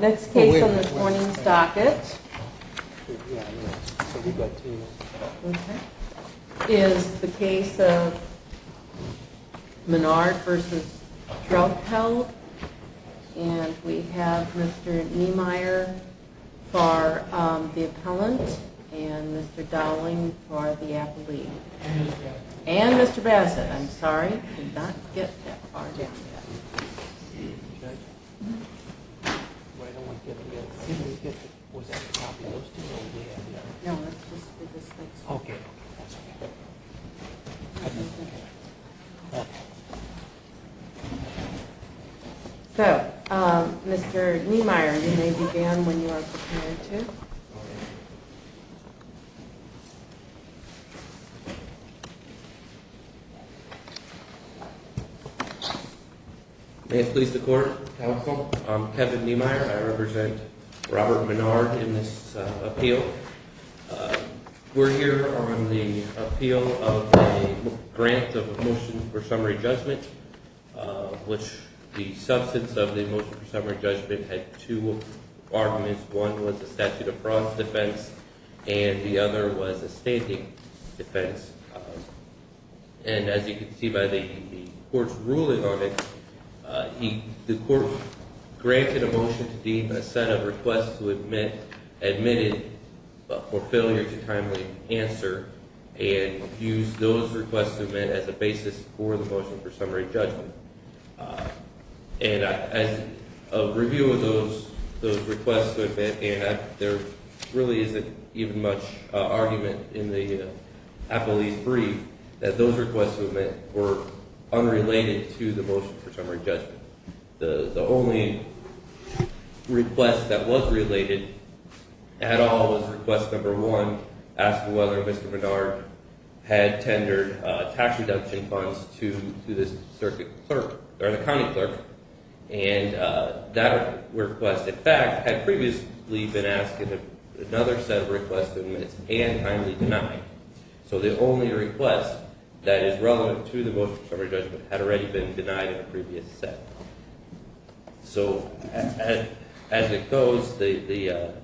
Next case on this morning's docket is the case of Menard v. Threlkeld, and we have Mr. Niemeyer for the appellant, and Mr. Dowling for the appellee, and Mr. Bassett. I'm sorry, we did not get that far down yet. But I don't want to get into that. Was that a copy of those two? No, that's just for this next one. Okay, that's okay. So, Mr. Niemeyer, you may begin when you are prepared to. May it please the Court? Counsel? I'm Kevin Niemeyer. I represent Robert Menard in this appeal. We're here on the appeal of a grant of a motion for summary judgment, which the substance of the motion for summary judgment had two arguments. One was a statute of fraud defense, and the other was a standing defense. And as you can see by the Court's ruling on it, the Court granted a motion to deem a set of requests to admit admitted for failure to timely answer and used those requests to admit as a basis for the motion for summary judgment. And as a review of those requests to admit, there really isn't even much argument in the appellee's brief that those requests to admit were unrelated to the motion for summary judgment. The only request that was related at all was request number one, asking whether Mr. Menard had tendered tax reduction funds to this circuit clerk, or the county clerk. And that request, in fact, had previously been asked in another set of requests to admit and timely denied. So the only request that is relevant to the motion for summary judgment had already been denied in a previous set. So as it goes, the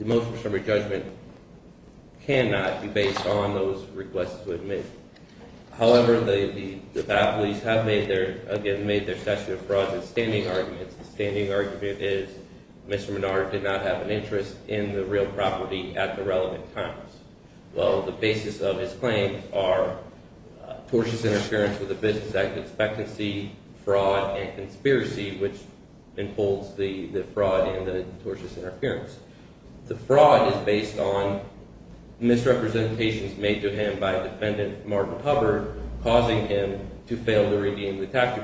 motion for summary judgment cannot be based on those requests to admit. However, the appellees have made their statute of frauds and standing arguments. The standing argument is Mr. Menard did not have an interest in the real property at the relevant times. Well, the basis of his claims are tortious interference with the Business Act expectancy, fraud, and conspiracy, which enfolds the fraud and the tortious interference. The fraud is based on misrepresentations made to him by defendant Martin Hubbard, causing him to fail to redeem the tax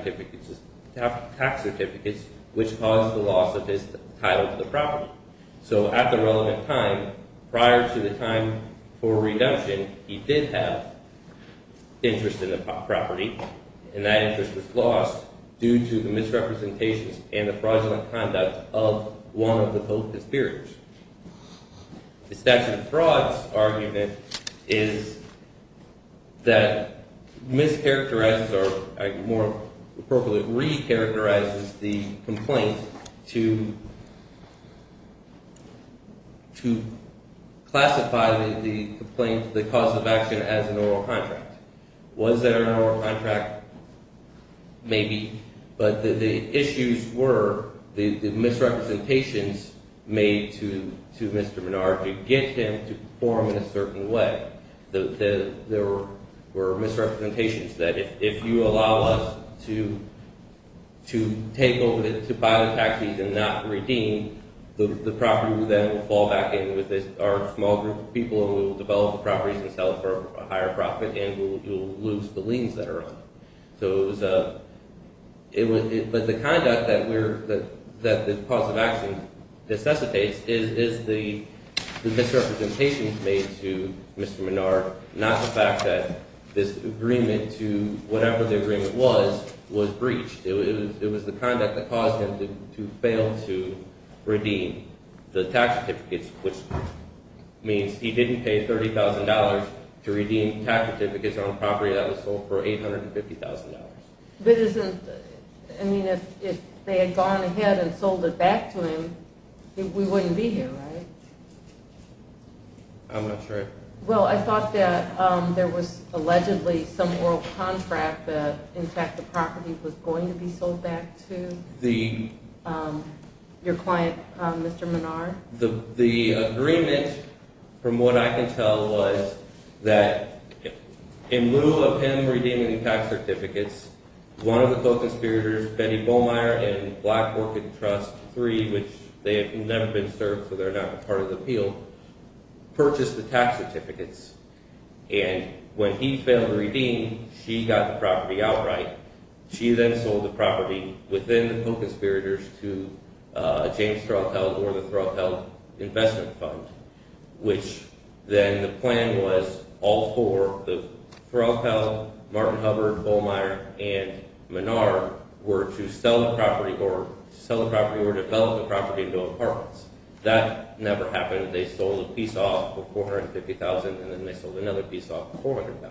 certificates, which caused the loss of his title to the property. So at the relevant time, prior to the time for redemption, he did have interest in the property, and that interest was lost due to the misrepresentations and the fraudulent conduct of one of the co-conspirators. The statute of frauds argument is that mischaracterizes or, more appropriately, recharacterizes the complaint to classify the complaint, the cause of action, as an oral contract. Was there an oral contract? Maybe. But the issues were the misrepresentations made to Mr. Menard to get him to perform in a certain way. There were misrepresentations that if you allow us to take over, to buy the taxis and not redeem, the property then will fall back in with our small group of people, and we will develop the properties and sell it for a higher profit, and we will lose the liens that are on it. But the conduct that the cause of action necessitates is the misrepresentations made to Mr. Menard, not the fact that this agreement to whatever the agreement was, was breached. It was the conduct that caused him to fail to redeem the tax certificates, which means he didn't pay $30,000 to redeem tax certificates on a property that was sold for $850,000. But isn't, I mean, if they had gone ahead and sold it back to him, we wouldn't be here, right? I'm not sure. Well, I thought that there was allegedly some oral contract that in fact the property was going to be sold back to your client, Mr. Menard. The agreement, from what I can tell, was that in lieu of him redeeming the tax certificates, one of the token spiriters, Betty Bollmeier in Black Orchid Trust 3, which they have never been served, so they're not part of the appeal, purchased the tax certificates. And when he failed to redeem, she got the property outright. She then sold the property within the token spiriters to James Threlfeld or the Threlfeld Investment Fund, which then the plan was all four, Threlfeld, Martin Hubbard, Bollmeier, and Menard were to sell the property or develop the property into apartments. That never happened. They sold a piece off for $450,000 and then they sold another piece off for $400,000.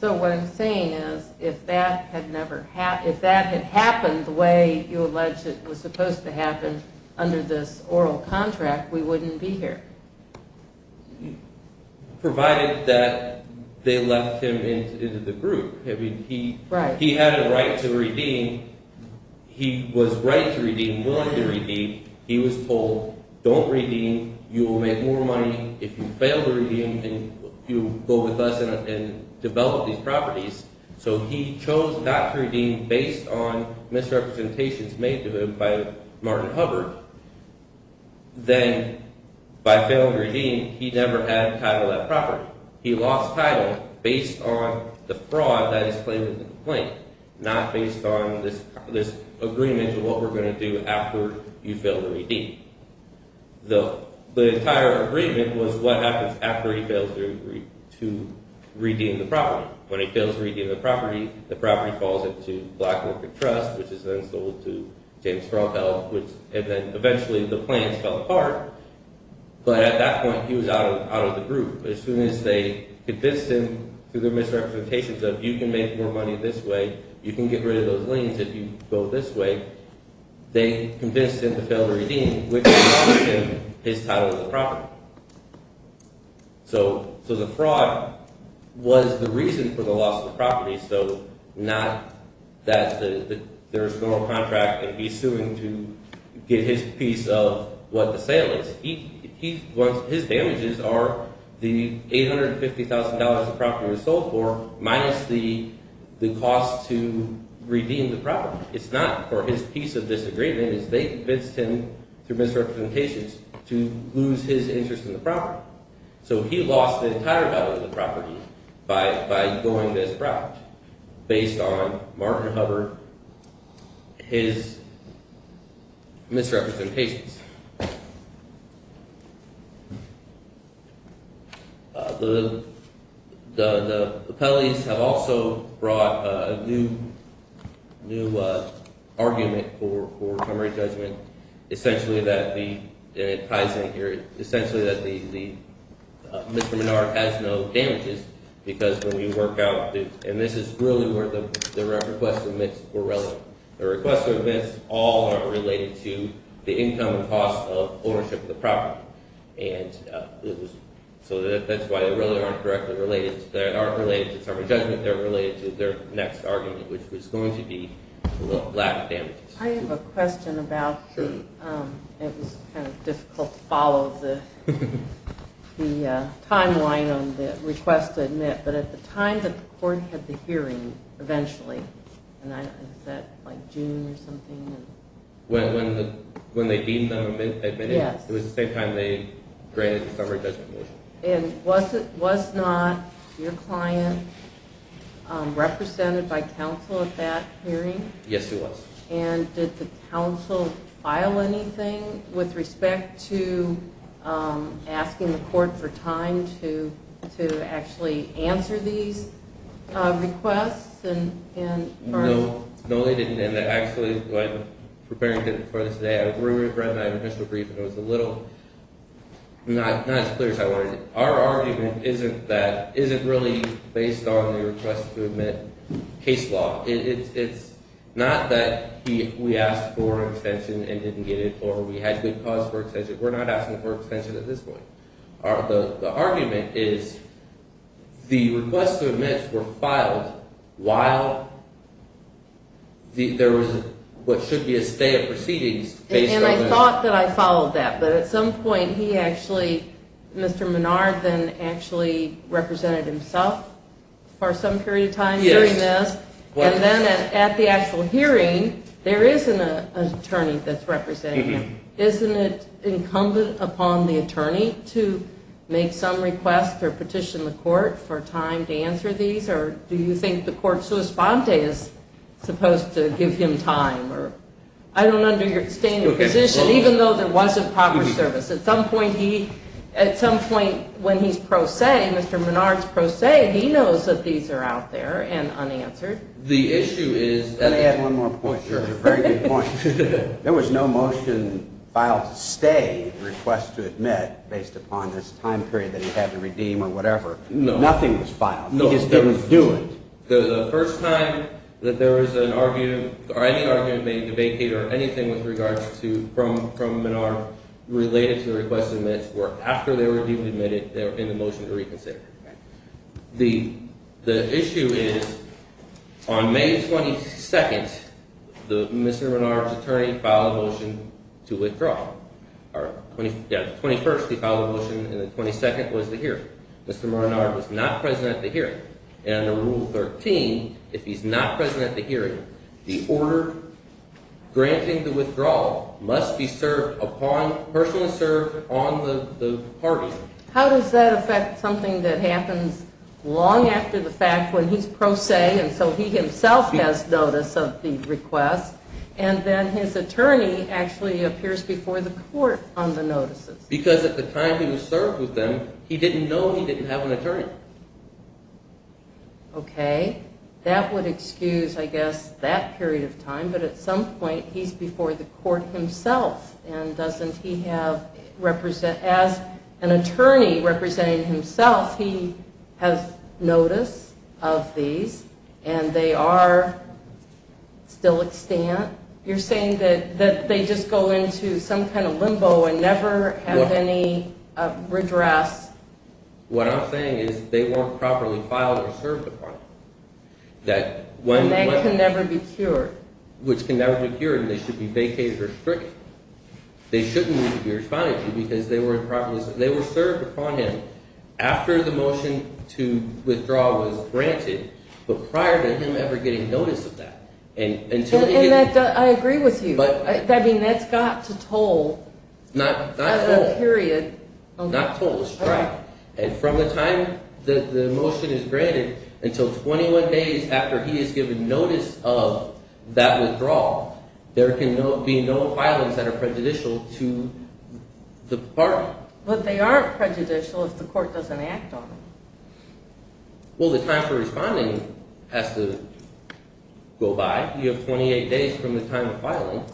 So what I'm saying is if that had never happened, if that had happened the way you allege it was supposed to happen under this oral contract, we wouldn't be here. Provided that they left him into the group. He had a right to redeem. He was right to redeem, willing to redeem. He was told, don't redeem. You will make more money if you fail to redeem and you go with us and develop these properties. So he chose not to redeem based on misrepresentations made to him by Martin Hubbard. Then by failing to redeem, he never had title of that property. He lost title based on the fraud that is claimed in the complaint, not based on this agreement of what we're going to do after you fail to redeem. The entire agreement was what happens after he fails to redeem the property. When he fails to redeem the property, the property falls into Black Lincoln Trust, which is then sold to James Frotheld, and then eventually the plans fell apart. But at that point he was out of the group. As soon as they convinced him through the misrepresentations of you can make more money this way, you can get rid of those liens if you go this way, they convinced him to fail to redeem, which cost him his title of the property. So the fraud was the reason for the loss of the property, so not that there's no contract and he's suing to get his piece of what the sale is. His damages are the $850,000 the property was sold for minus the cost to redeem the property. It's not for his piece of this agreement, it's they convinced him through misrepresentations to lose his interest in the property. So he lost the entire value of the property by going this route based on Martin Hubbard, his misrepresentations. The appellees have also brought a new argument for primary judgment, essentially that the – it ties in here – essentially that Mr. Menard has no damages because when we work out the – and this is really where the request of amends were relevant. The request of amends all are related to the income and cost of ownership of the property. And so that's why they really aren't directly related – they aren't related to primary judgment, they're related to their next argument, which was going to be lack of damages. I have a question about the – it was kind of difficult to follow the timeline on the request to admit, but at the time that the court had the hearing, eventually, was that like June or something? When they deemed them admitted, it was the same time they granted the summary judgment motion. And was not your client represented by counsel at that hearing? Yes, he was. And did the counsel file anything with respect to asking the court for time to actually answer these requests? No, they didn't. And actually, when preparing for this today, I read my initial brief and it was a little – not as clear as I wanted it to be. Our argument isn't that – isn't really based on the request to admit case law. It's not that we asked for extension and didn't get it or we had good cause for extension. We're not asking for extension at this point. The argument is the requests to admit were filed while there was what should be a stay of proceedings. And I thought that I followed that, but at some point he actually – Mr. Menard then actually represented himself for some period of time during this. Yes. And then at the actual hearing, there isn't an attorney that's representing him. Isn't it incumbent upon the attorney to make some request or petition the court for time to answer these? Or do you think the court sui sponte is supposed to give him time? I don't understand your position, even though there was improper service. At some point he – at some point when he's pro se, Mr. Menard's pro se, he knows that these are out there and unanswered. The issue is – Let me add one more point. Sure. There was no motion filed to stay the request to admit based upon this time period that he had to redeem or whatever. No. Nothing was filed. No. He just didn't do it. The first time that there was an argument or any argument made, debate, or anything with regards to – from Menard related to the request to admit were after they were deemed admitted, they were in the motion to reconsider. Okay. The issue is on May 22nd, Mr. Menard's attorney filed a motion to withdraw. Yeah, the 21st he filed a motion, and the 22nd was the hearing. Mr. Menard was not present at the hearing, and under Rule 13, if he's not present at the hearing, the order granting the withdrawal must be served upon – personally served on the party. How does that affect something that happens long after the fact when he's pro se and so he himself has notice of the request, and then his attorney actually appears before the court on the notices? Because at the time he was served with them, he didn't know he didn't have an attorney. Okay. That would excuse, I guess, that period of time, but at some point he's before the court himself, and doesn't he have – as an attorney representing himself, he has notice of these, and they are still extant? You're saying that they just go into some kind of limbo and never have any redress? What I'm saying is they weren't properly filed or served upon. And they can never be cured. Which can never be cured, and they should be vacated or restricted. They shouldn't need to be responded to because they were served upon him after the motion to withdraw was granted, but prior to him ever getting notice of that. I agree with you. I mean, that's got to toll. Not toll. Period. Not toll, strike. And from the time that the motion is granted until 21 days after he is given notice of that withdrawal, there can be no filings that are prejudicial to the party. But they aren't prejudicial if the court doesn't act on them. Well, the time for responding has to go by. You have 28 days from the time of filing.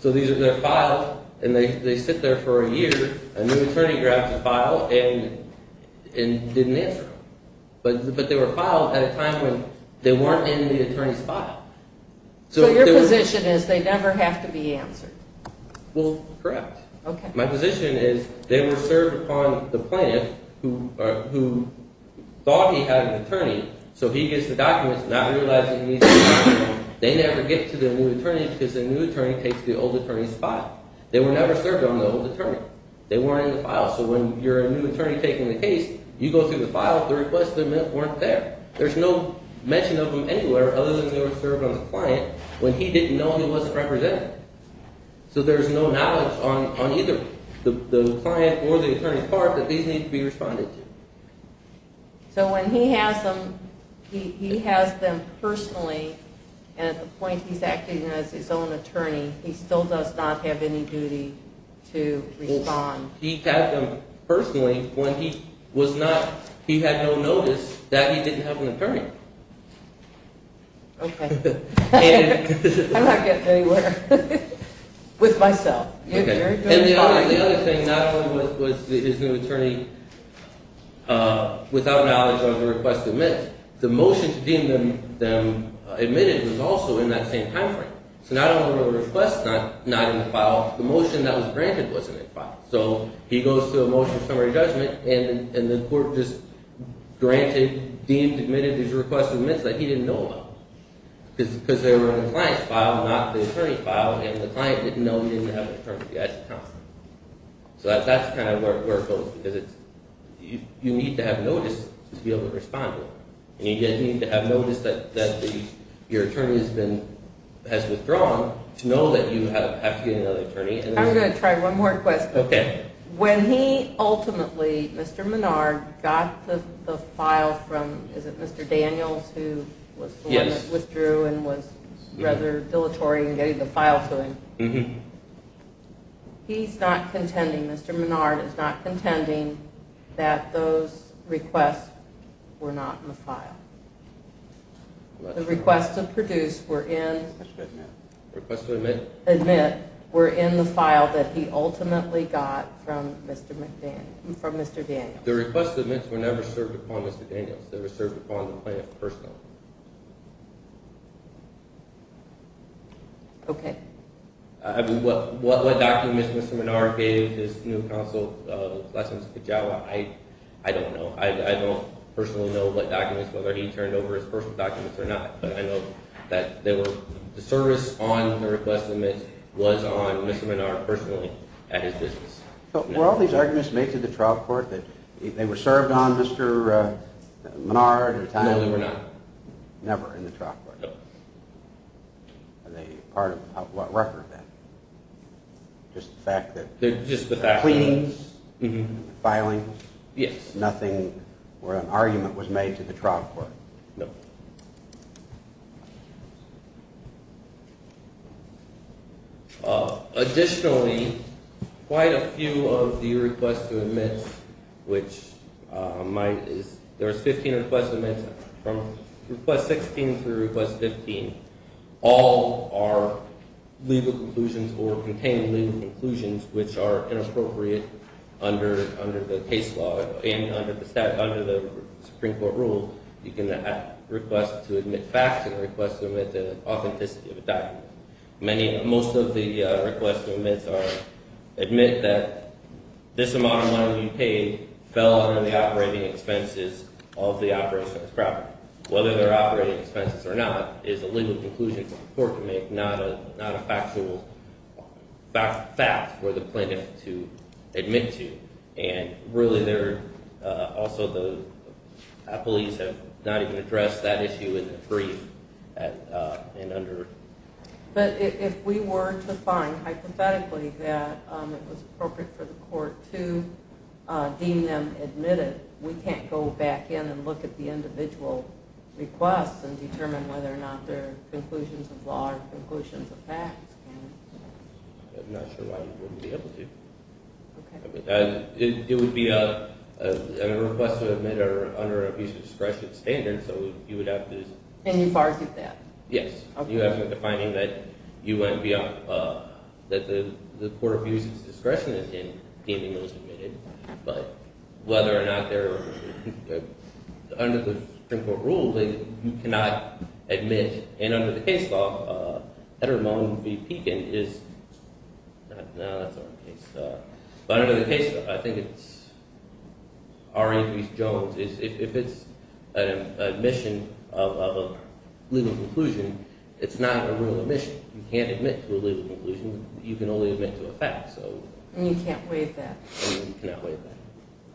So these are filed, and they sit there for a year. A new attorney grabs a file and didn't answer it. But they were filed at a time when they weren't in the attorney's file. So your position is they never have to be answered? Well, correct. Okay. My position is they were served upon the plaintiff who thought he had an attorney, so he gets the documents, not realizing he needs the documents. They never get to the new attorney because the new attorney takes the old attorney's file. They were never served on the old attorney. They weren't in the file. So when you're a new attorney taking the case, you go through the file, the requests weren't there. There's no mention of them anywhere other than they were served on the client when he didn't know he wasn't represented. So there's no knowledge on either the client or the attorney's part that these need to be responded to. So when he has them, he has them personally, and at the point he's acting as his own attorney, he still does not have any duty to respond? He had them personally when he was not – he had no notice that he didn't have an attorney. Okay. I'm not getting anywhere. With myself. And the other thing, not only was his new attorney without knowledge of the request to admit, the motion to deem them admitted was also in that same timeframe. So not only were the requests not in the file, the motion that was granted wasn't in the file. So he goes to a motion of summary judgment, and the court just granted, deemed, admitted these requests of admits that he didn't know about. Because they were in the client's file, not the attorney's file, and the client didn't know he didn't have an attorney at the time. So that's kind of where it goes, because you need to have notice to be able to respond to it. And you need to have notice that your attorney has withdrawn to know that you have to get another attorney. I'm going to try one more question. Okay. When he ultimately, Mr. Menard, got the file from – is it Mr. Daniels who was the one that withdrew and was rather dilatory in getting the file to him? Mm-hmm. He's not contending, Mr. Menard is not contending that those requests were not in the file. The requests to produce were in – Requests to admit. Admit were in the file that he ultimately got from Mr. Daniels. The requests to admit were never served upon Mr. Daniels. They were served upon the client's personal. Okay. I mean, what documents Mr. Menard gave his new counsel, Last Name's Kijawa, I don't know. I don't personally know what documents, whether he turned over his personal documents or not. But I know that they were – the service on the request to admit was on Mr. Menard personally at his business. So were all these arguments made to the trial court that they were served on Mr. Menard and – No, they were not. Never in the trial court? No. Are they part of what record then? Just the fact that – Just the fact that – Cleaning? Mm-hmm. Filing? Yes. Nothing or an argument was made to the trial court? No. Additionally, quite a few of the requests to admit, which might – there's 15 requests to admit. From request 16 through request 15, all are legal conclusions or contain legal conclusions which are inappropriate under the case law and under the Supreme Court rules. You can request to admit facts and request to admit the authenticity of a document. Most of the requests to admit are admit that this amount of money we paid fell under the operating expenses of the operations property. Whether they're operating expenses or not is a legal conclusion for the court to make, not a factual fact for the plaintiff to admit to. Really, also the police have not even addressed that issue in the brief and under – But if we were to find hypothetically that it was appropriate for the court to deem them admitted, we can't go back in and look at the individual requests and determine whether or not they're conclusions of law or conclusions of facts, can we? I'm not sure why you wouldn't be able to. It would be a request to admit under an abuse of discretion standard, so you would have to – And you bargained that? Yes. You have to have the finding that you went beyond – that the court abused its discretion in deeming those admitted, but whether or not they're – under the Supreme Court rules, you cannot admit, and under the case law, heteromone v. Pekin is – no, that's not in the case law. But under the case law, I think it's R.A.P. Jones. If it's an admission of a legal conclusion, it's not a real admission. You can't admit to a legal conclusion. You can only admit to a fact, so –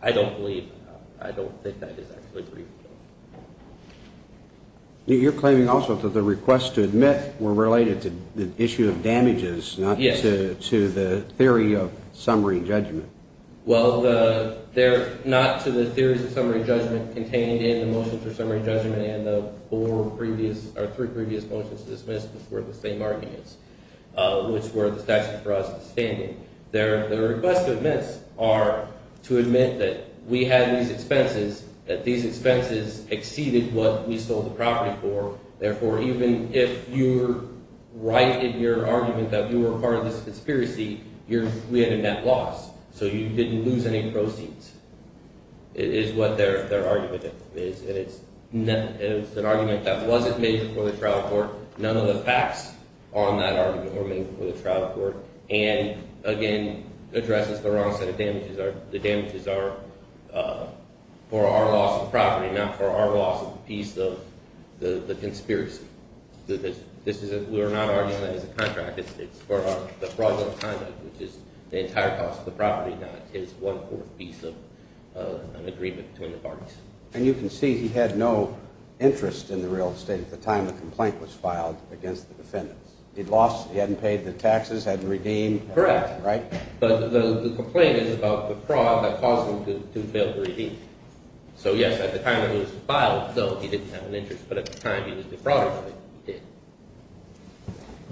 I don't believe – I don't think that is actually reasonable. You're claiming also that the requests to admit were related to the issue of damages, not to the theory of summary judgment. Well, they're not to the theories of summary judgment contained in the motions for summary judgment and the four previous – or three previous motions dismissed before the same arguments, which were the statute for us to stand in. Their requests to admit are to admit that we had these expenses, that these expenses exceeded what we sold the property for. Therefore, even if you're right in your argument that you were part of this conspiracy, we had a net loss. So you didn't lose any proceeds is what their argument is. And it's an argument that wasn't made before the trial court. None of the facts on that argument were made before the trial court. And, again, addresses the wrong set of damages. The damages are for our loss of property, not for our loss of the piece of the conspiracy. This is – we are not arguing that as a contract. It's for the fraudulent conduct, which is the entire cost of the property, not just one-fourth piece of an agreement between the parties. And you can see he had no interest in the real estate at the time the complaint was filed against the defendants. He'd lost – he hadn't paid the taxes, hadn't redeemed. Correct. Right? But the complaint is about the fraud that caused him to fail to redeem. So, yes, at the time it was filed, though, he didn't have an interest. But at the time he was defrauded, he did.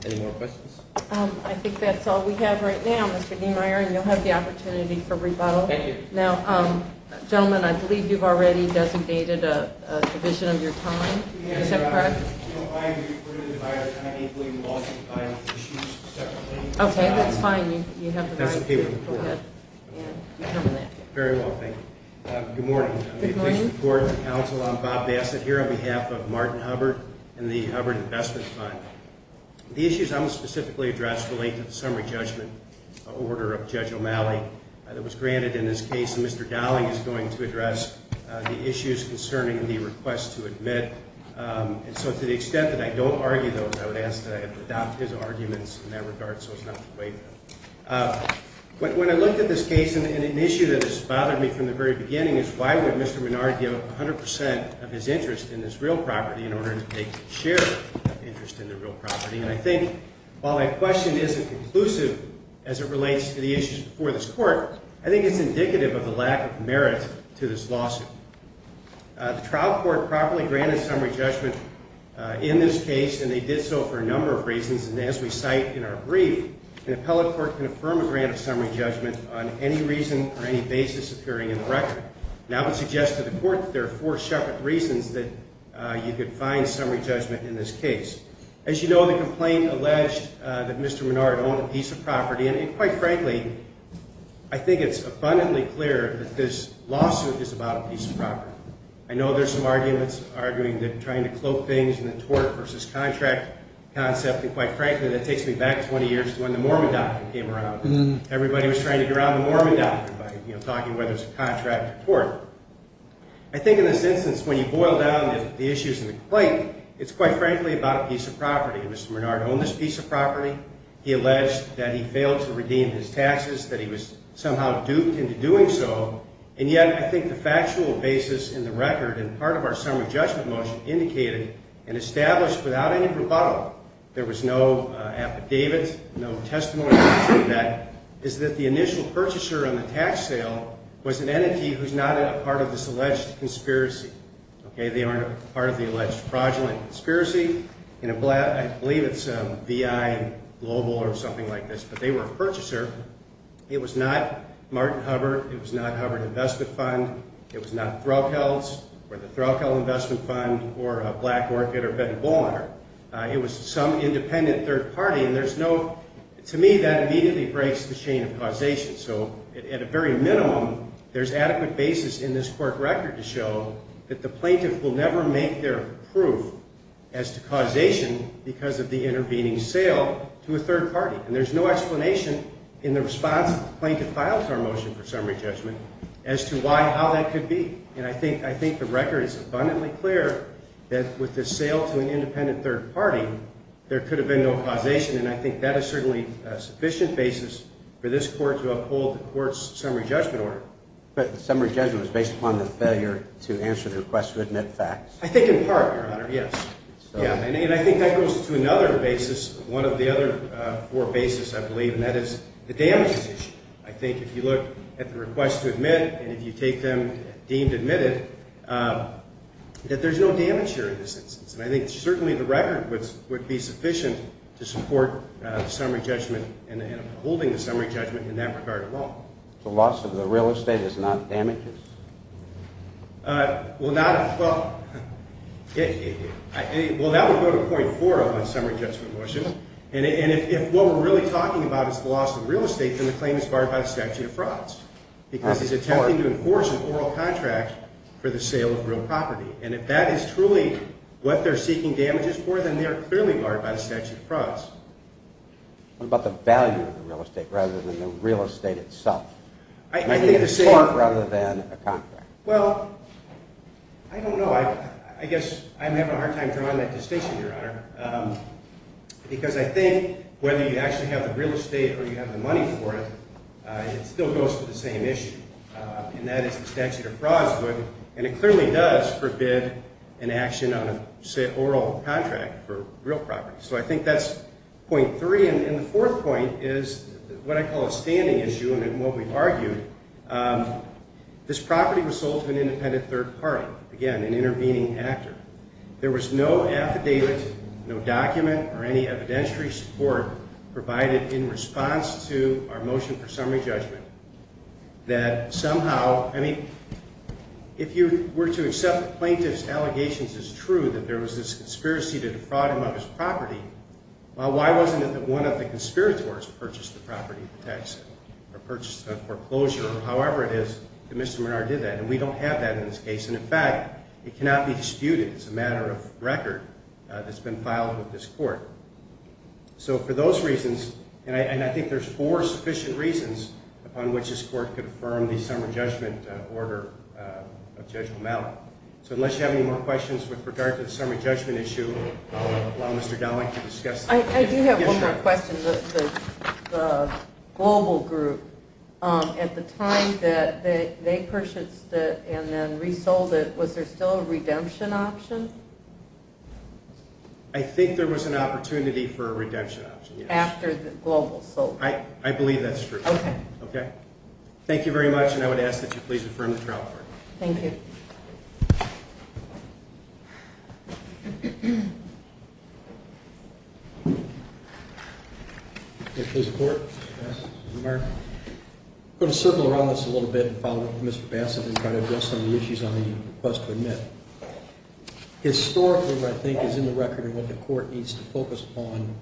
Any more questions? I think that's all we have right now, Mr. Gehmeyer, and you'll have the opportunity for rebuttal. Thank you. Now, gentlemen, I believe you've already designated a division of your time. Mr. Gehmeyer, is that correct? No, I am here for the divided time. I believe we will all take time for issues separately. Okay. That's fine. You have the right. That's okay with the court. Very well. Thank you. Good morning. Good morning. I'm the official of the court and counsel. I'm Bob Bassett here on behalf of Martin Hubbard and the Hubbard Investment Fund. The issues I'm going to specifically address relate to the summary judgment order of Judge O'Malley that was granted in this case. And Mr. Dowling is going to address the issues concerning the request to admit. And so to the extent that I don't argue those, I would ask that I adopt his arguments in that regard so as not to waive them. When I looked at this case, an issue that has bothered me from the very beginning is why would Mr. Minard give 100 percent of his interest in this real property in order to take share of interest in the real property? And I think while my question isn't conclusive as it relates to the issues before this court, I think it's indicative of the lack of merit to this lawsuit. The trial court properly granted summary judgment in this case, and they did so for a number of reasons. And as we cite in our brief, an appellate court can affirm a grant of summary judgment on any reason or any basis appearing in the record. And I would suggest to the court that there are four separate reasons that you could find summary judgment in this case. As you know, the complaint alleged that Mr. Minard owned a piece of property, and quite frankly, I think it's abundantly clear that this lawsuit is about a piece of property. I know there's some arguments arguing that trying to cloak things in the tort versus contract concept, and quite frankly, that takes me back 20 years to when the Mormon doctrine came around. Everybody was trying to ground the Mormon doctrine by talking whether it's a contract or tort. I think in this instance, when you boil down the issues in the complaint, it's quite frankly about a piece of property. Mr. Minard owned this piece of property. He alleged that he failed to redeem his taxes, that he was somehow duped into doing so. And yet I think the factual basis in the record and part of our summary judgment motion indicated and established without any rebuttal, there was no affidavit, no testimony to prove that, is that the initial purchaser on the tax sale was an entity who's not a part of this alleged conspiracy. They aren't a part of the alleged fraudulent conspiracy. I believe it's VI Global or something like this, but they were a purchaser. It was not Martin Hubbard. It was not Hubbard Investment Fund. It was not Threlkeld's or the Threlkeld Investment Fund or Black Orchid or Ben Ballmer. It was some independent third party. To me, that immediately breaks the chain of causation. So at a very minimum, there's adequate basis in this court record to show that the plaintiff will never make their proof as to causation because of the intervening sale to a third party. And there's no explanation in the response of the plaintiff's file to our motion for summary judgment as to how that could be. And I think the record is abundantly clear that with the sale to an independent third party, there could have been no causation, and I think that is certainly a sufficient basis for this court to uphold the court's summary judgment order. But the summary judgment was based upon the failure to answer the request to admit facts. I think in part, Your Honor, yes. And I think that goes to another basis, one of the other four basis, I believe, and that is the damages issue. I think if you look at the request to admit and if you take them deemed admitted, that there's no damage here in this instance. And I think certainly the record would be sufficient to support the summary judgment and upholding the summary judgment in that regard at all. The loss of the real estate is not damages? Well, that would go to point four on the summary judgment motion. And if what we're really talking about is the loss of real estate, then the claim is barred by the statute of frauds because he's attempting to enforce an oral contract for the sale of real property. And if that is truly what they're seeking damages for, then they are clearly barred by the statute of frauds. What about the value of the real estate rather than the real estate itself? I think the same. Rather than a contract. Well, I don't know. I guess I'm having a hard time drawing that distinction, Your Honor, because I think whether you actually have the real estate or you have the money for it, it still goes to the same issue, and that is the statute of frauds. And it clearly does forbid an action on an oral contract for real property. So I think that's point three. And the fourth point is what I call a standing issue and what we've argued. This property was sold to an independent third party. Again, an intervening actor. There was no affidavit, no document, or any evidentiary support provided in response to our motion for summary judgment that somehow, I mean, if you were to accept the plaintiff's allegations as true that there was this conspiracy to defraud him of his property, well, why wasn't it that one of the conspirators purchased the property in Texas or purchased it on foreclosure or however it is that Mr. Minard did that? And we don't have that in this case. And, in fact, it cannot be disputed. It's a matter of record that's been filed with this court. So for those reasons, and I think there's four sufficient reasons upon which this court could affirm the summary judgment order of Judge O'Malley. So unless you have any more questions with regard to the summary judgment issue, I'll allow Mr. Dowling to discuss. I do have one more question. The global group, at the time that they purchased it and then resold it, was there still a redemption option? I think there was an opportunity for a redemption option, yes. After the global sold it. I believe that's true. Okay. Okay? Thank you very much, and I would ask that you please affirm the trial record. Thank you. Mr. Court? I'm going to circle around this a little bit and follow up with Mr. Bassett and try to address some of the issues on the request to admit. Historically, what I think is in the record and what the court needs to focus upon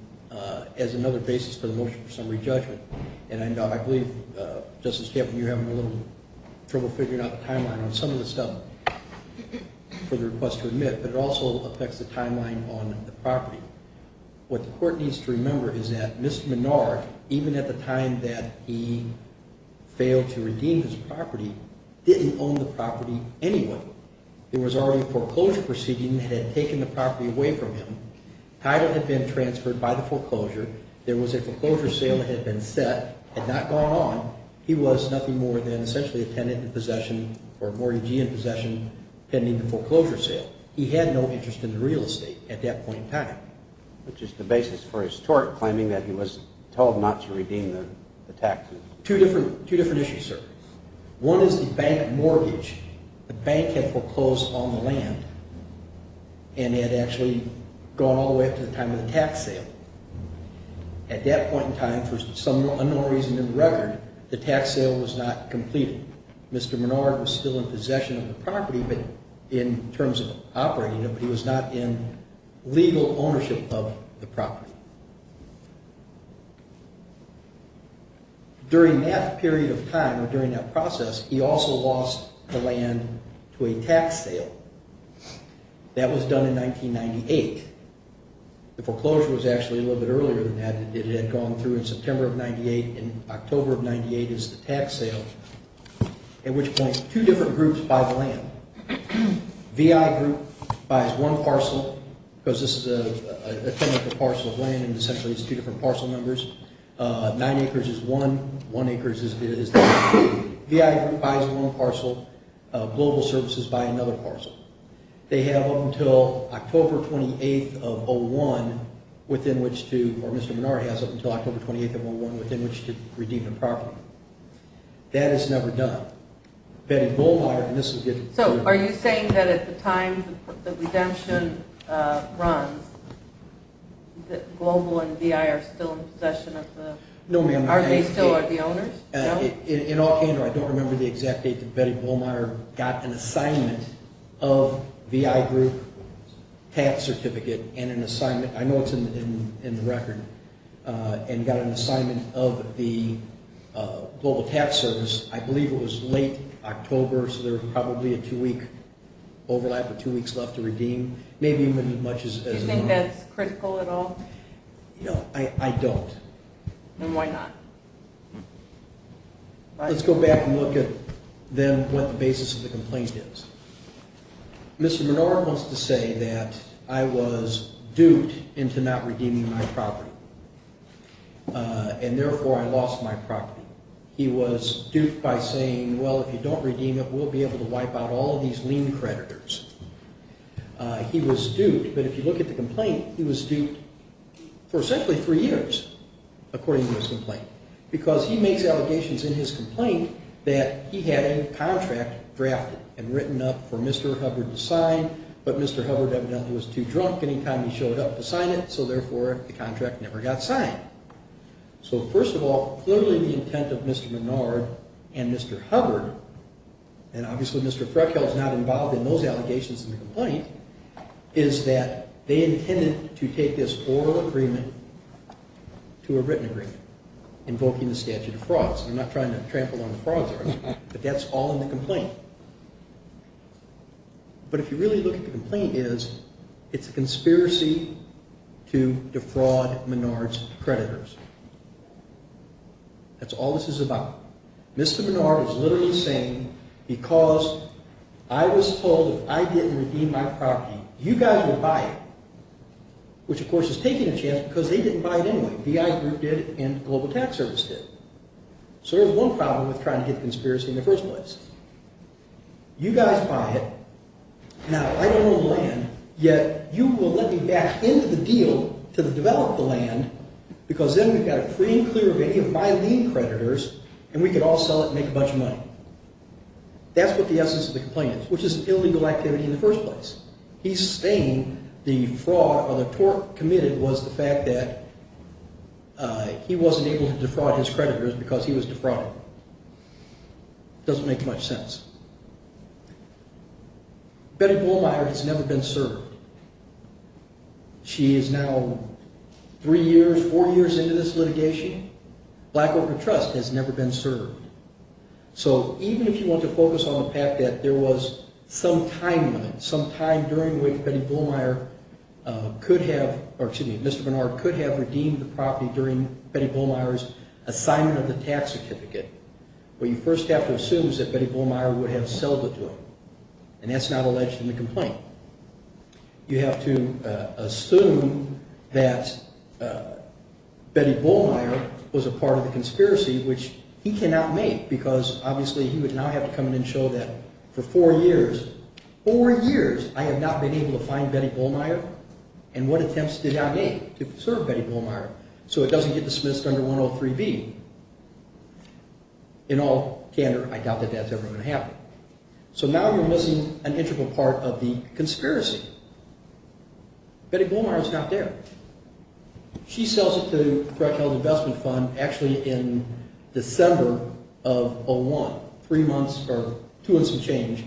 is another basis for the motion for summary judgment. And I believe, Justice Tampkin, you're having a little trouble figuring out the timeline on some of the stuff for the request to admit. But it also affects the timeline on the property. What the court needs to remember is that Mr. Menard, even at the time that he failed to redeem his property, didn't own the property anyway. There was already a foreclosure proceeding that had taken the property away from him. Title had been transferred by the foreclosure. There was a foreclosure sale that had been set, had not gone on. He was nothing more than essentially a tenant in possession or a mortgagee in possession pending the foreclosure sale. He had no interest in the real estate at that point in time. Which is the basis for his tort, claiming that he was told not to redeem the tax. Two different issues, sir. One is the bank mortgage. The bank had foreclosed on the land and had actually gone all the way up to the time of the tax sale. At that point in time, for some unknown reason in the record, the tax sale was not completed. Mr. Menard was still in possession of the property in terms of operating it, but he was not in legal ownership of the property. During that period of time, or during that process, he also lost the land to a tax sale. That was done in 1998. The foreclosure was actually a little bit earlier than that. It had gone through in September of 1998, and October of 1998 is the tax sale. At which point, two different groups buy the land. VI group buys one parcel, because this is a tentative parcel of land and essentially it's two different parcel numbers. Nine acres is one, one acre is two. VI group buys one parcel, Global Services buy another parcel. They have up until October 28th of 2001 within which to, or Mr. Menard has up until October 28th of 2001 within which to redeem the property. That is never done. Betty Bollmeier, and this will get to... So, are you saying that at the time the redemption runs, that Global and VI are still in possession of the... No, ma'am. Are they still the owners? In all candor, I don't remember the exact date that Betty Bollmeier got an assignment of VI group tax certificate and an assignment. I know it's in the record, and got an assignment of the Global Tax Service. I believe it was late October, so there was probably a two-week overlap, or two weeks left to redeem. Maybe even as much as... Do you think that's critical at all? No, I don't. Then why not? Let's go back and look at then what the basis of the complaint is. Mr. Menard wants to say that I was duped into not redeeming my property, and therefore I lost my property. He was duped by saying, well, if you don't redeem it, we'll be able to wipe out all these lien creditors. He was duped, but if you look at the complaint, he was duped for essentially three years, according to his complaint, because he makes allegations in his complaint that he had a contract drafted and written up for Mr. Hubbard to sign, but Mr. Hubbard evidently was too drunk any time he showed up to sign it, so therefore the contract never got signed. First of all, clearly the intent of Mr. Menard and Mr. Hubbard, and obviously Mr. Freckle is not involved in those allegations in the complaint, is that they intended to take this oral agreement to a written agreement, invoking the statute of frauds. I'm not trying to trample on the frauds, but that's all in the complaint. But if you really look at the complaint, it's a conspiracy to defraud Menard's creditors. That's all this is about. Mr. Menard is literally saying, because I was told if I didn't redeem my property, you guys would buy it, which of course is taking a chance because they didn't buy it anyway. VI Group did, and Global Tax Service did. So there's one problem with trying to hit the conspiracy in the first place. You guys buy it, now I don't own the land, yet you will let me back into the deal to develop the land, because then we've got it free and clear of any of my lien creditors, and we can all sell it and make a bunch of money. That's what the essence of the complaint is, which is illegal activity in the first place. He's saying the fraud or the tort committed was the fact that he wasn't able to defraud his creditors because he was defrauded. Doesn't make much sense. Betty Bullmeier has never been served. She is now three years, four years into this litigation. Black Organ Trust has never been served. So even if you want to focus on the fact that there was some time limit, some time during which Mr. Bernard could have redeemed the property during Betty Bullmeier's assignment of the tax certificate, what you first have to assume is that Betty Bullmeier would have sold it to him. And that's not alleged in the complaint. You have to assume that Betty Bullmeier was a part of the conspiracy, which he cannot make, because obviously he would now have to come in and show that for four years, four years I have not been able to find Betty Bullmeier and what attempts did I make to serve Betty Bullmeier, so it doesn't get dismissed under 103B. In all candor, I doubt that that's ever going to happen. So now you're missing an integral part of the conspiracy. Betty Bullmeier is not there. She sells it to the Threatened Health Investment Fund actually in December of 2001, three months or two months of change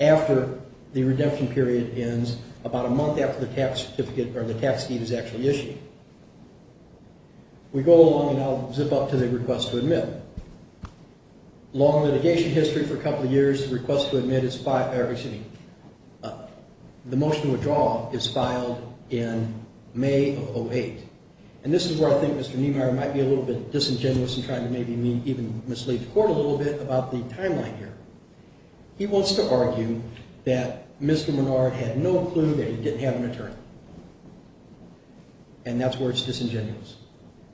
after the redemption period ends, about a month after the tax certificate or the tax deed is actually issued. We go along, and I'll zip up to the request to admit. Long litigation history for a couple of years. The request to admit is filed every week. The motion to withdraw is filed in May of 2008. And this is where I think Mr. Niemeyer might be a little bit disingenuous in trying to maybe even mislead the court a little bit about the timeline here. He wants to argue that Mr. Menard had no clue that he didn't have an attorney, and that's where it's disingenuous.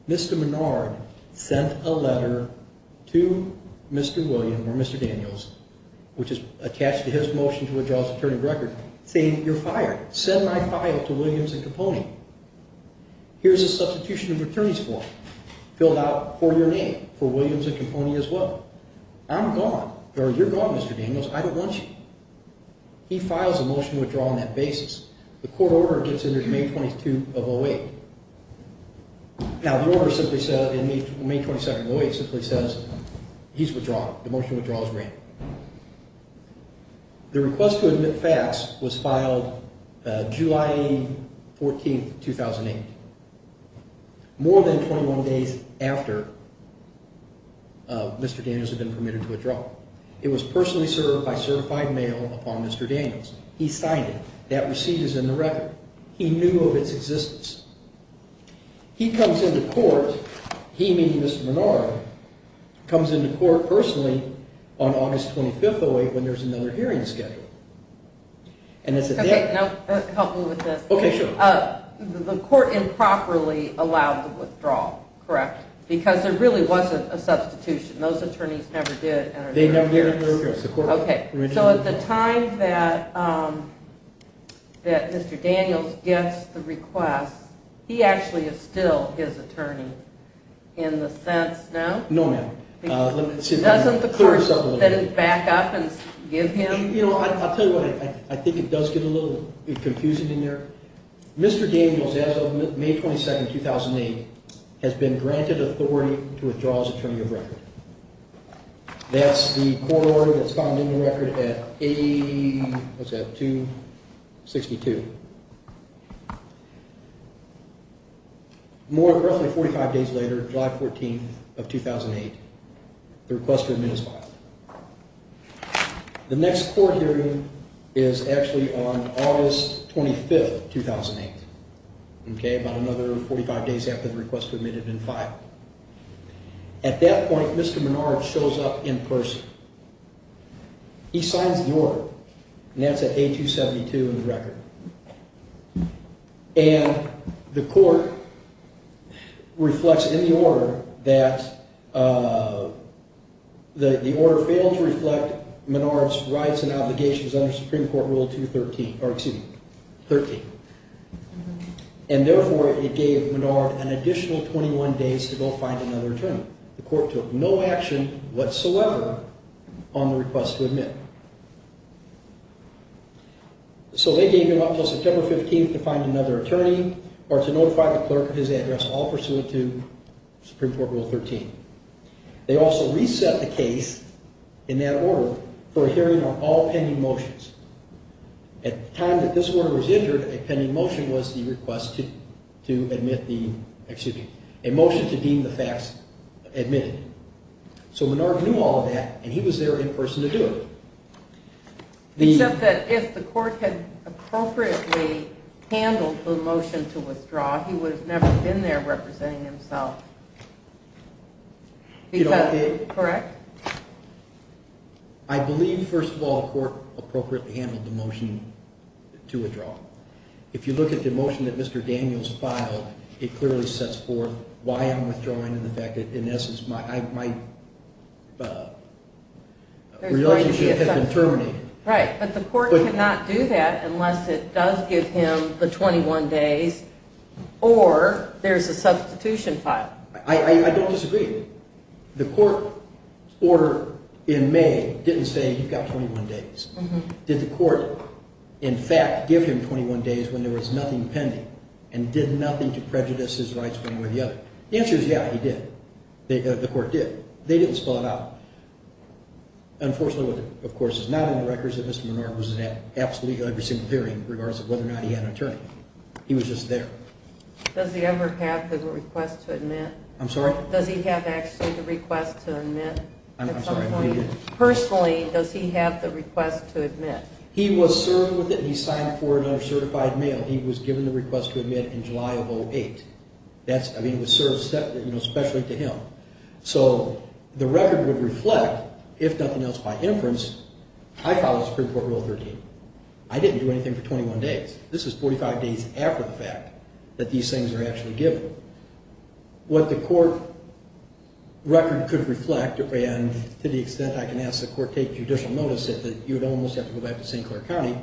Mr. Menard sent a letter to Mr. Williams or Mr. Daniels, which is attached to his motion to withdraw his attorney of record, saying, you're fired. Send my file to Williams and Caponi. Here's a substitution of attorneys form filled out for your name, for Williams and Caponi as well. I'm gone, or you're gone, Mr. Daniels. I don't want you. He files a motion to withdraw on that basis. The court order gets entered in May 22 of 08. Now, the order simply says in May 22 of 08 simply says he's withdrawn. The motion to withdraw is granted. The request to admit facts was filed July 14, 2008, more than 21 days after Mr. Daniels had been permitted to withdraw. It was personally served by certified mail upon Mr. Daniels. He signed it. That receipt is in the record. He knew of its existence. He comes into court, he meeting Mr. Menard, comes into court personally on August 25, 08, when there's another hearing scheduled. Okay, help me with this. Okay, sure. The court improperly allowed the withdrawal, correct, because there really wasn't a substitution. Those attorneys never did. They never did. Okay, so at the time that Mr. Daniels gets the request, he actually is still his attorney in the sense, no? No, ma'am. Doesn't the court back up and give him? I'll tell you what, I think it does get a little confusing in there. Mr. Daniels, as of May 22, 2008, has been granted authority to withdraw as attorney of record. That's the court order that's found in the record at 262. More, roughly 45 days later, July 14, 2008, the request to admit is filed. The next court hearing is actually on August 25, 2008, about another 45 days after the request to admit had been filed. At that point, Mr. Menard shows up in person. He signs the order, and that's at A272 in the record. And the court reflects in the order that the order failed to reflect Menard's rights and obligations under Supreme Court Rule 213, or excuse me, 13. And therefore, it gave Menard an additional 21 days to go find another attorney. The court took no action whatsoever on the request to admit. So they gave him up until September 15 to find another attorney or to notify the clerk of his address, all pursuant to Supreme Court Rule 13. They also reset the case in that order for a hearing on all pending motions. At the time that this order was entered, a pending motion was the request to admit the, excuse me, a motion to deem the facts admitted. So Menard knew all of that, and he was there in person to do it. Except that if the court had appropriately handled the motion to withdraw, he would have never been there representing himself. Correct? I believe, first of all, the court appropriately handled the motion to withdraw. If you look at the motion that Mr. Daniels filed, it clearly sets forth why I'm withdrawing and the fact that, in essence, my relationship has been terminated. Right, but the court cannot do that unless it does give him the 21 days or there's a substitution file. I don't disagree. The court order in May didn't say you've got 21 days. Did the court, in fact, give him 21 days when there was nothing pending and did nothing to prejudice his rights one way or the other? The answer is yeah, he did. The court did. They didn't spell it out. Unfortunately, of course, it's not on the records that Mr. Menard was there absolutely every single hearing in regards to whether or not he had an attorney. He was just there. Does he ever have the request to admit? I'm sorry? Does he have actually the request to admit? I'm sorry, I made it. Personally, does he have the request to admit? He was served with it, and he signed for another certified male. He was given the request to admit in July of 2008. I mean, it was served specially to him. So the record would reflect, if nothing else, by inference, I followed Supreme Court Rule 13. I didn't do anything for 21 days. This was 45 days after the fact that these things were actually given. What the court record could reflect, and to the extent I can ask the court to take judicial notice of it, you would almost have to go back to St. Clair County.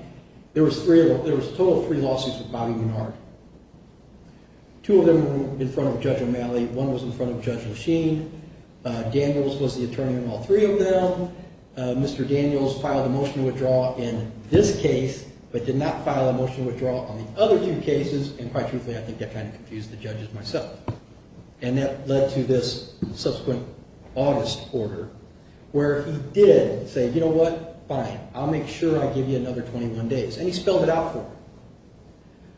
There was a total of three lawsuits with Bobby Menard. Two of them were in front of Judge O'Malley. One was in front of Judge Machine. Daniels was the attorney on all three of them. Mr. Daniels filed a motion to withdraw in this case but did not file a motion to withdraw on the other two cases, and quite truthfully, I think that kind of confused the judges myself. And that led to this subsequent August order, where he did say, you know what, fine, I'll make sure I give you another 21 days. And he spelled it out for him.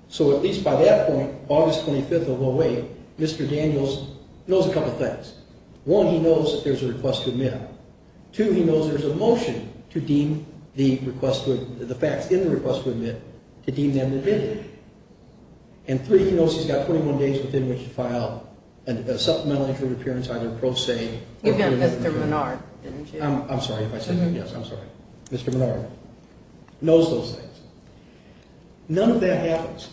So at least by that point, August 25th of 08, Mr. Daniels knows a couple things. One, he knows that there's a request to admit. Two, he knows there's a motion to deem the request to admit, the facts in the request to admit, to deem them to admit it. And three, he knows he's got 21 days within which to file a supplemental injury appearance, either pro se. You've done Mr. Menard, didn't you? I'm sorry if I said that. Yes, I'm sorry. Mr. Menard knows those things. None of that happens.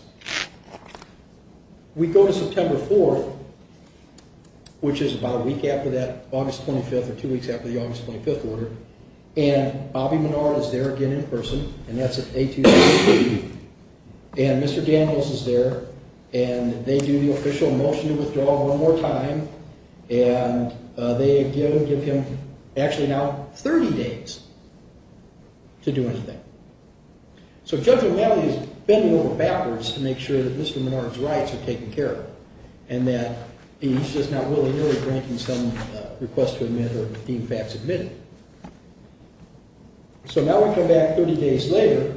We go to September 4th, which is about a week after that, August 25th or two weeks after the August 25th order, and Bobby Menard is there again in person, and that's at 1863. And Mr. Daniels is there, and they do the official motion to withdraw one more time, and they give him actually now 30 days to do anything. So Judge O'Malley is bending over backwards to make sure that Mr. Menard's rights are taken care of and that he's just not willy-nilly granting some request to admit or deem facts admitted. So now we come back 30 days later,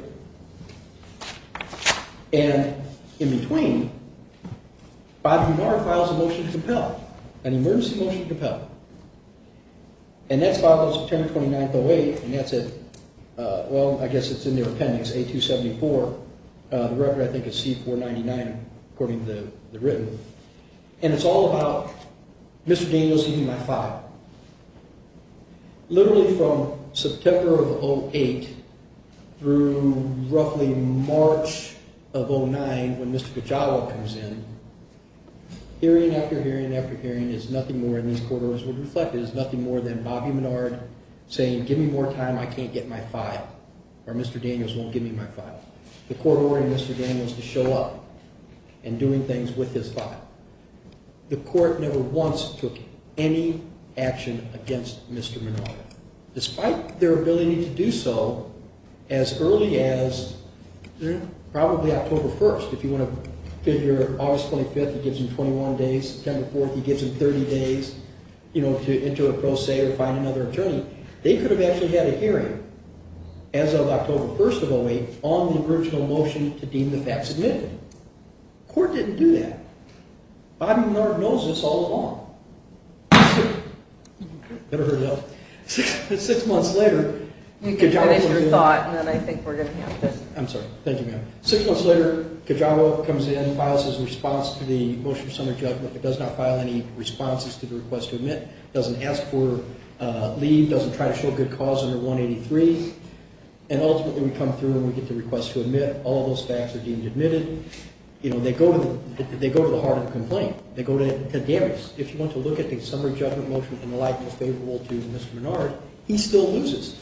and in between, Bobby Menard files a motion to compel, an emergency motion to compel. And that's filed on September 29th, 08, and that's at, well, I guess it's in their appendix, A274. The record, I think, is C-499, according to the written. And it's all about Mr. Daniels giving my file. Literally from September of 08 through roughly March of 09, when Mr. Kajawa comes in, hearing after hearing after hearing is nothing more, and these court orders will reflect it, is nothing more than Bobby Menard saying, give me more time, I can't get my file, or Mr. Daniels won't give me my file. The court ordering Mr. Daniels to show up and doing things with his file. The court never once took any action against Mr. Menard. Despite their ability to do so as early as probably October 1st, if you want to figure August 25th, he gives him 21 days, September 4th, he gives him 30 days, you know, to enter a pro se or find another attorney. They could have actually had a hearing as of October 1st of 08 on the original motion to deem the facts admitted. The court didn't do that. Bobby Menard knows this all along. Six months later, Kajawa comes in. You can finish your thought, and then I think we're going to have to... I'm sorry. Thank you, ma'am. Six months later, Kajawa comes in, files his response to the motion of summary judgment, but does not file any responses to the request to admit, doesn't ask for leave, doesn't try to show good cause under 183, and ultimately we come through and we get the request to admit. All those facts are deemed admitted. You know, they go to the heart of the complaint. They go to damage. If you want to look at the summary judgment motion in the likeness favorable to Mr. Menard, he still loses.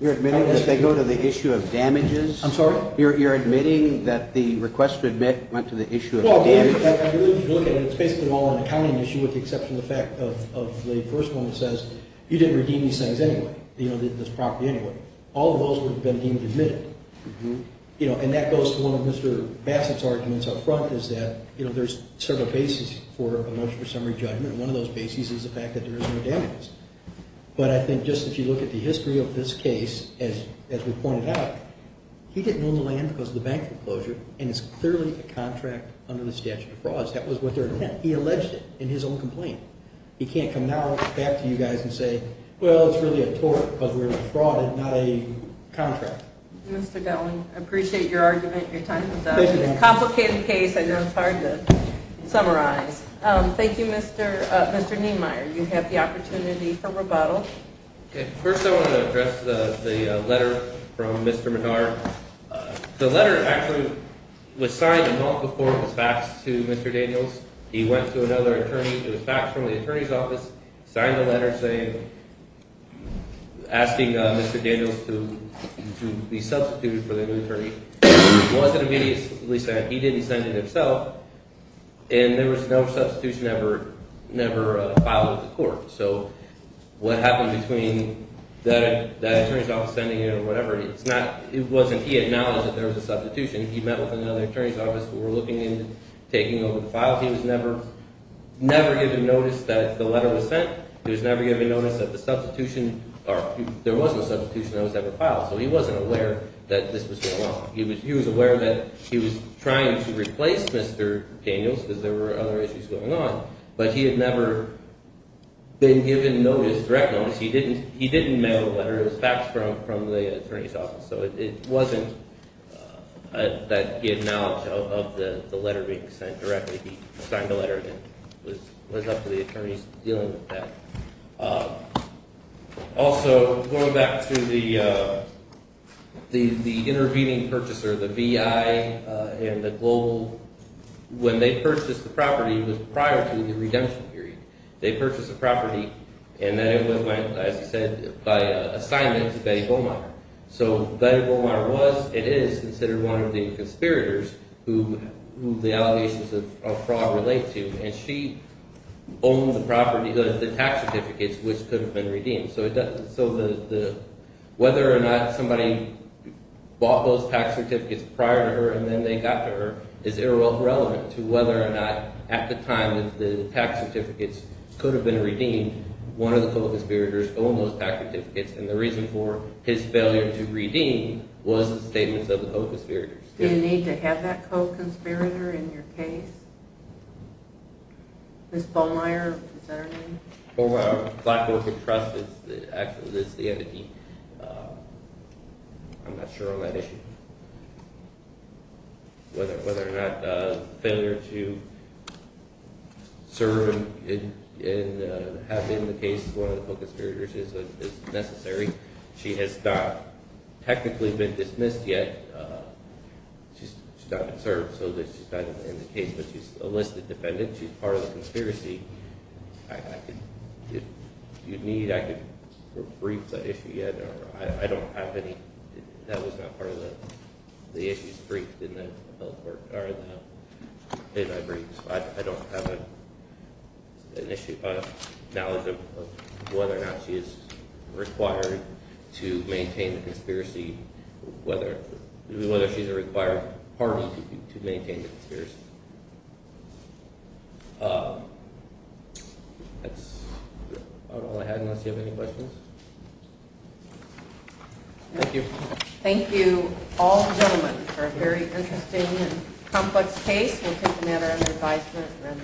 You're admitting that they go to the issue of damages? I'm sorry? You're admitting that the request to admit went to the issue of damages? Well, if you look at it, it's basically all an accounting issue with the exception of the fact of the first one that says you didn't redeem these things anyway, you know, this property anyway. All of those would have been deemed admitted. You know, and that goes to one of Mr. Bassett's arguments up front is that, you know, there's several bases for a motion for summary judgment, and one of those bases is the fact that there is no damages. But I think just if you look at the history of this case, as we pointed out, he didn't own the land because of the bank foreclosure and it's clearly a contract under the statute of frauds. That was what they're... Again, he alleged it in his own complaint. He can't come now back to you guys and say, well, it's really a tort because we're in a fraud and not a contract. Mr. Delling, I appreciate your argument and your time. It's a complicated case. I know it's hard to summarize. Thank you, Mr. Niemeyer. You have the opportunity for rebuttal. Okay. First I want to address the letter from Mr. Menard. The letter actually was signed a month before it was faxed to Mr. Daniels. He went to another attorney, it was faxed from the attorney's office, signed the letter asking Mr. Daniels to be substituted for the new attorney. It wasn't immediately sent. He didn't send it himself, and there was no substitution ever filed at the court. So what happened between that attorney's office sending it or whatever, it wasn't he acknowledged that there was a substitution. He met with another attorney's office who were looking into taking over the files. He was never given notice that the letter was sent. He was never given notice that the substitution, or there was no substitution that was ever filed, so he wasn't aware that this was going on. He was aware that he was trying to replace Mr. Daniels because there were other issues going on, but he had never been given direct notice. It was faxed from the attorney's office, so it wasn't that he acknowledged of the letter being sent directly. He signed the letter and it was up to the attorneys to deal with that. Also, going back to the intervening purchaser, the VI and the Global, when they purchased the property, it was prior to the redemption period. They purchased the property, and then it went, as I said, by assignment to Betty Beaumont. So Betty Beaumont was, and is, considered one of the conspirators who the allegations of fraud relate to, and she owned the property, the tax certificates, which could have been redeemed. So whether or not somebody bought those tax certificates prior to her and then they got to her is irrelevant to whether or not, at the time, the tax certificates could have been redeemed. One of the co-conspirators owned those tax certificates, and the reason for his failure to redeem was the statements of the co-conspirators. Do you need to have that co-conspirator in your case? Ms. Bollmeier, is that her name? Bollmeier of Black Orchid Trust is actually the entity. I'm not sure on that issue. Whether or not the failure to serve and have been the case of one of the co-conspirators is necessary. She has not technically been dismissed yet. She's not been served, so she's not in the case, but she's a listed defendant. She's part of the conspiracy. If you need, I could brief the issue yet. I don't have any, that was not part of the issues briefed in the case I briefed. I don't have an issue, knowledge of whether or not she is required to maintain the conspiracy, whether she's a required party to maintain the conspiracy. That's about all I had, unless you have any questions. Thank you. Thank you, all gentlemen, for a very interesting and complex case. We'll take a matter under advisement.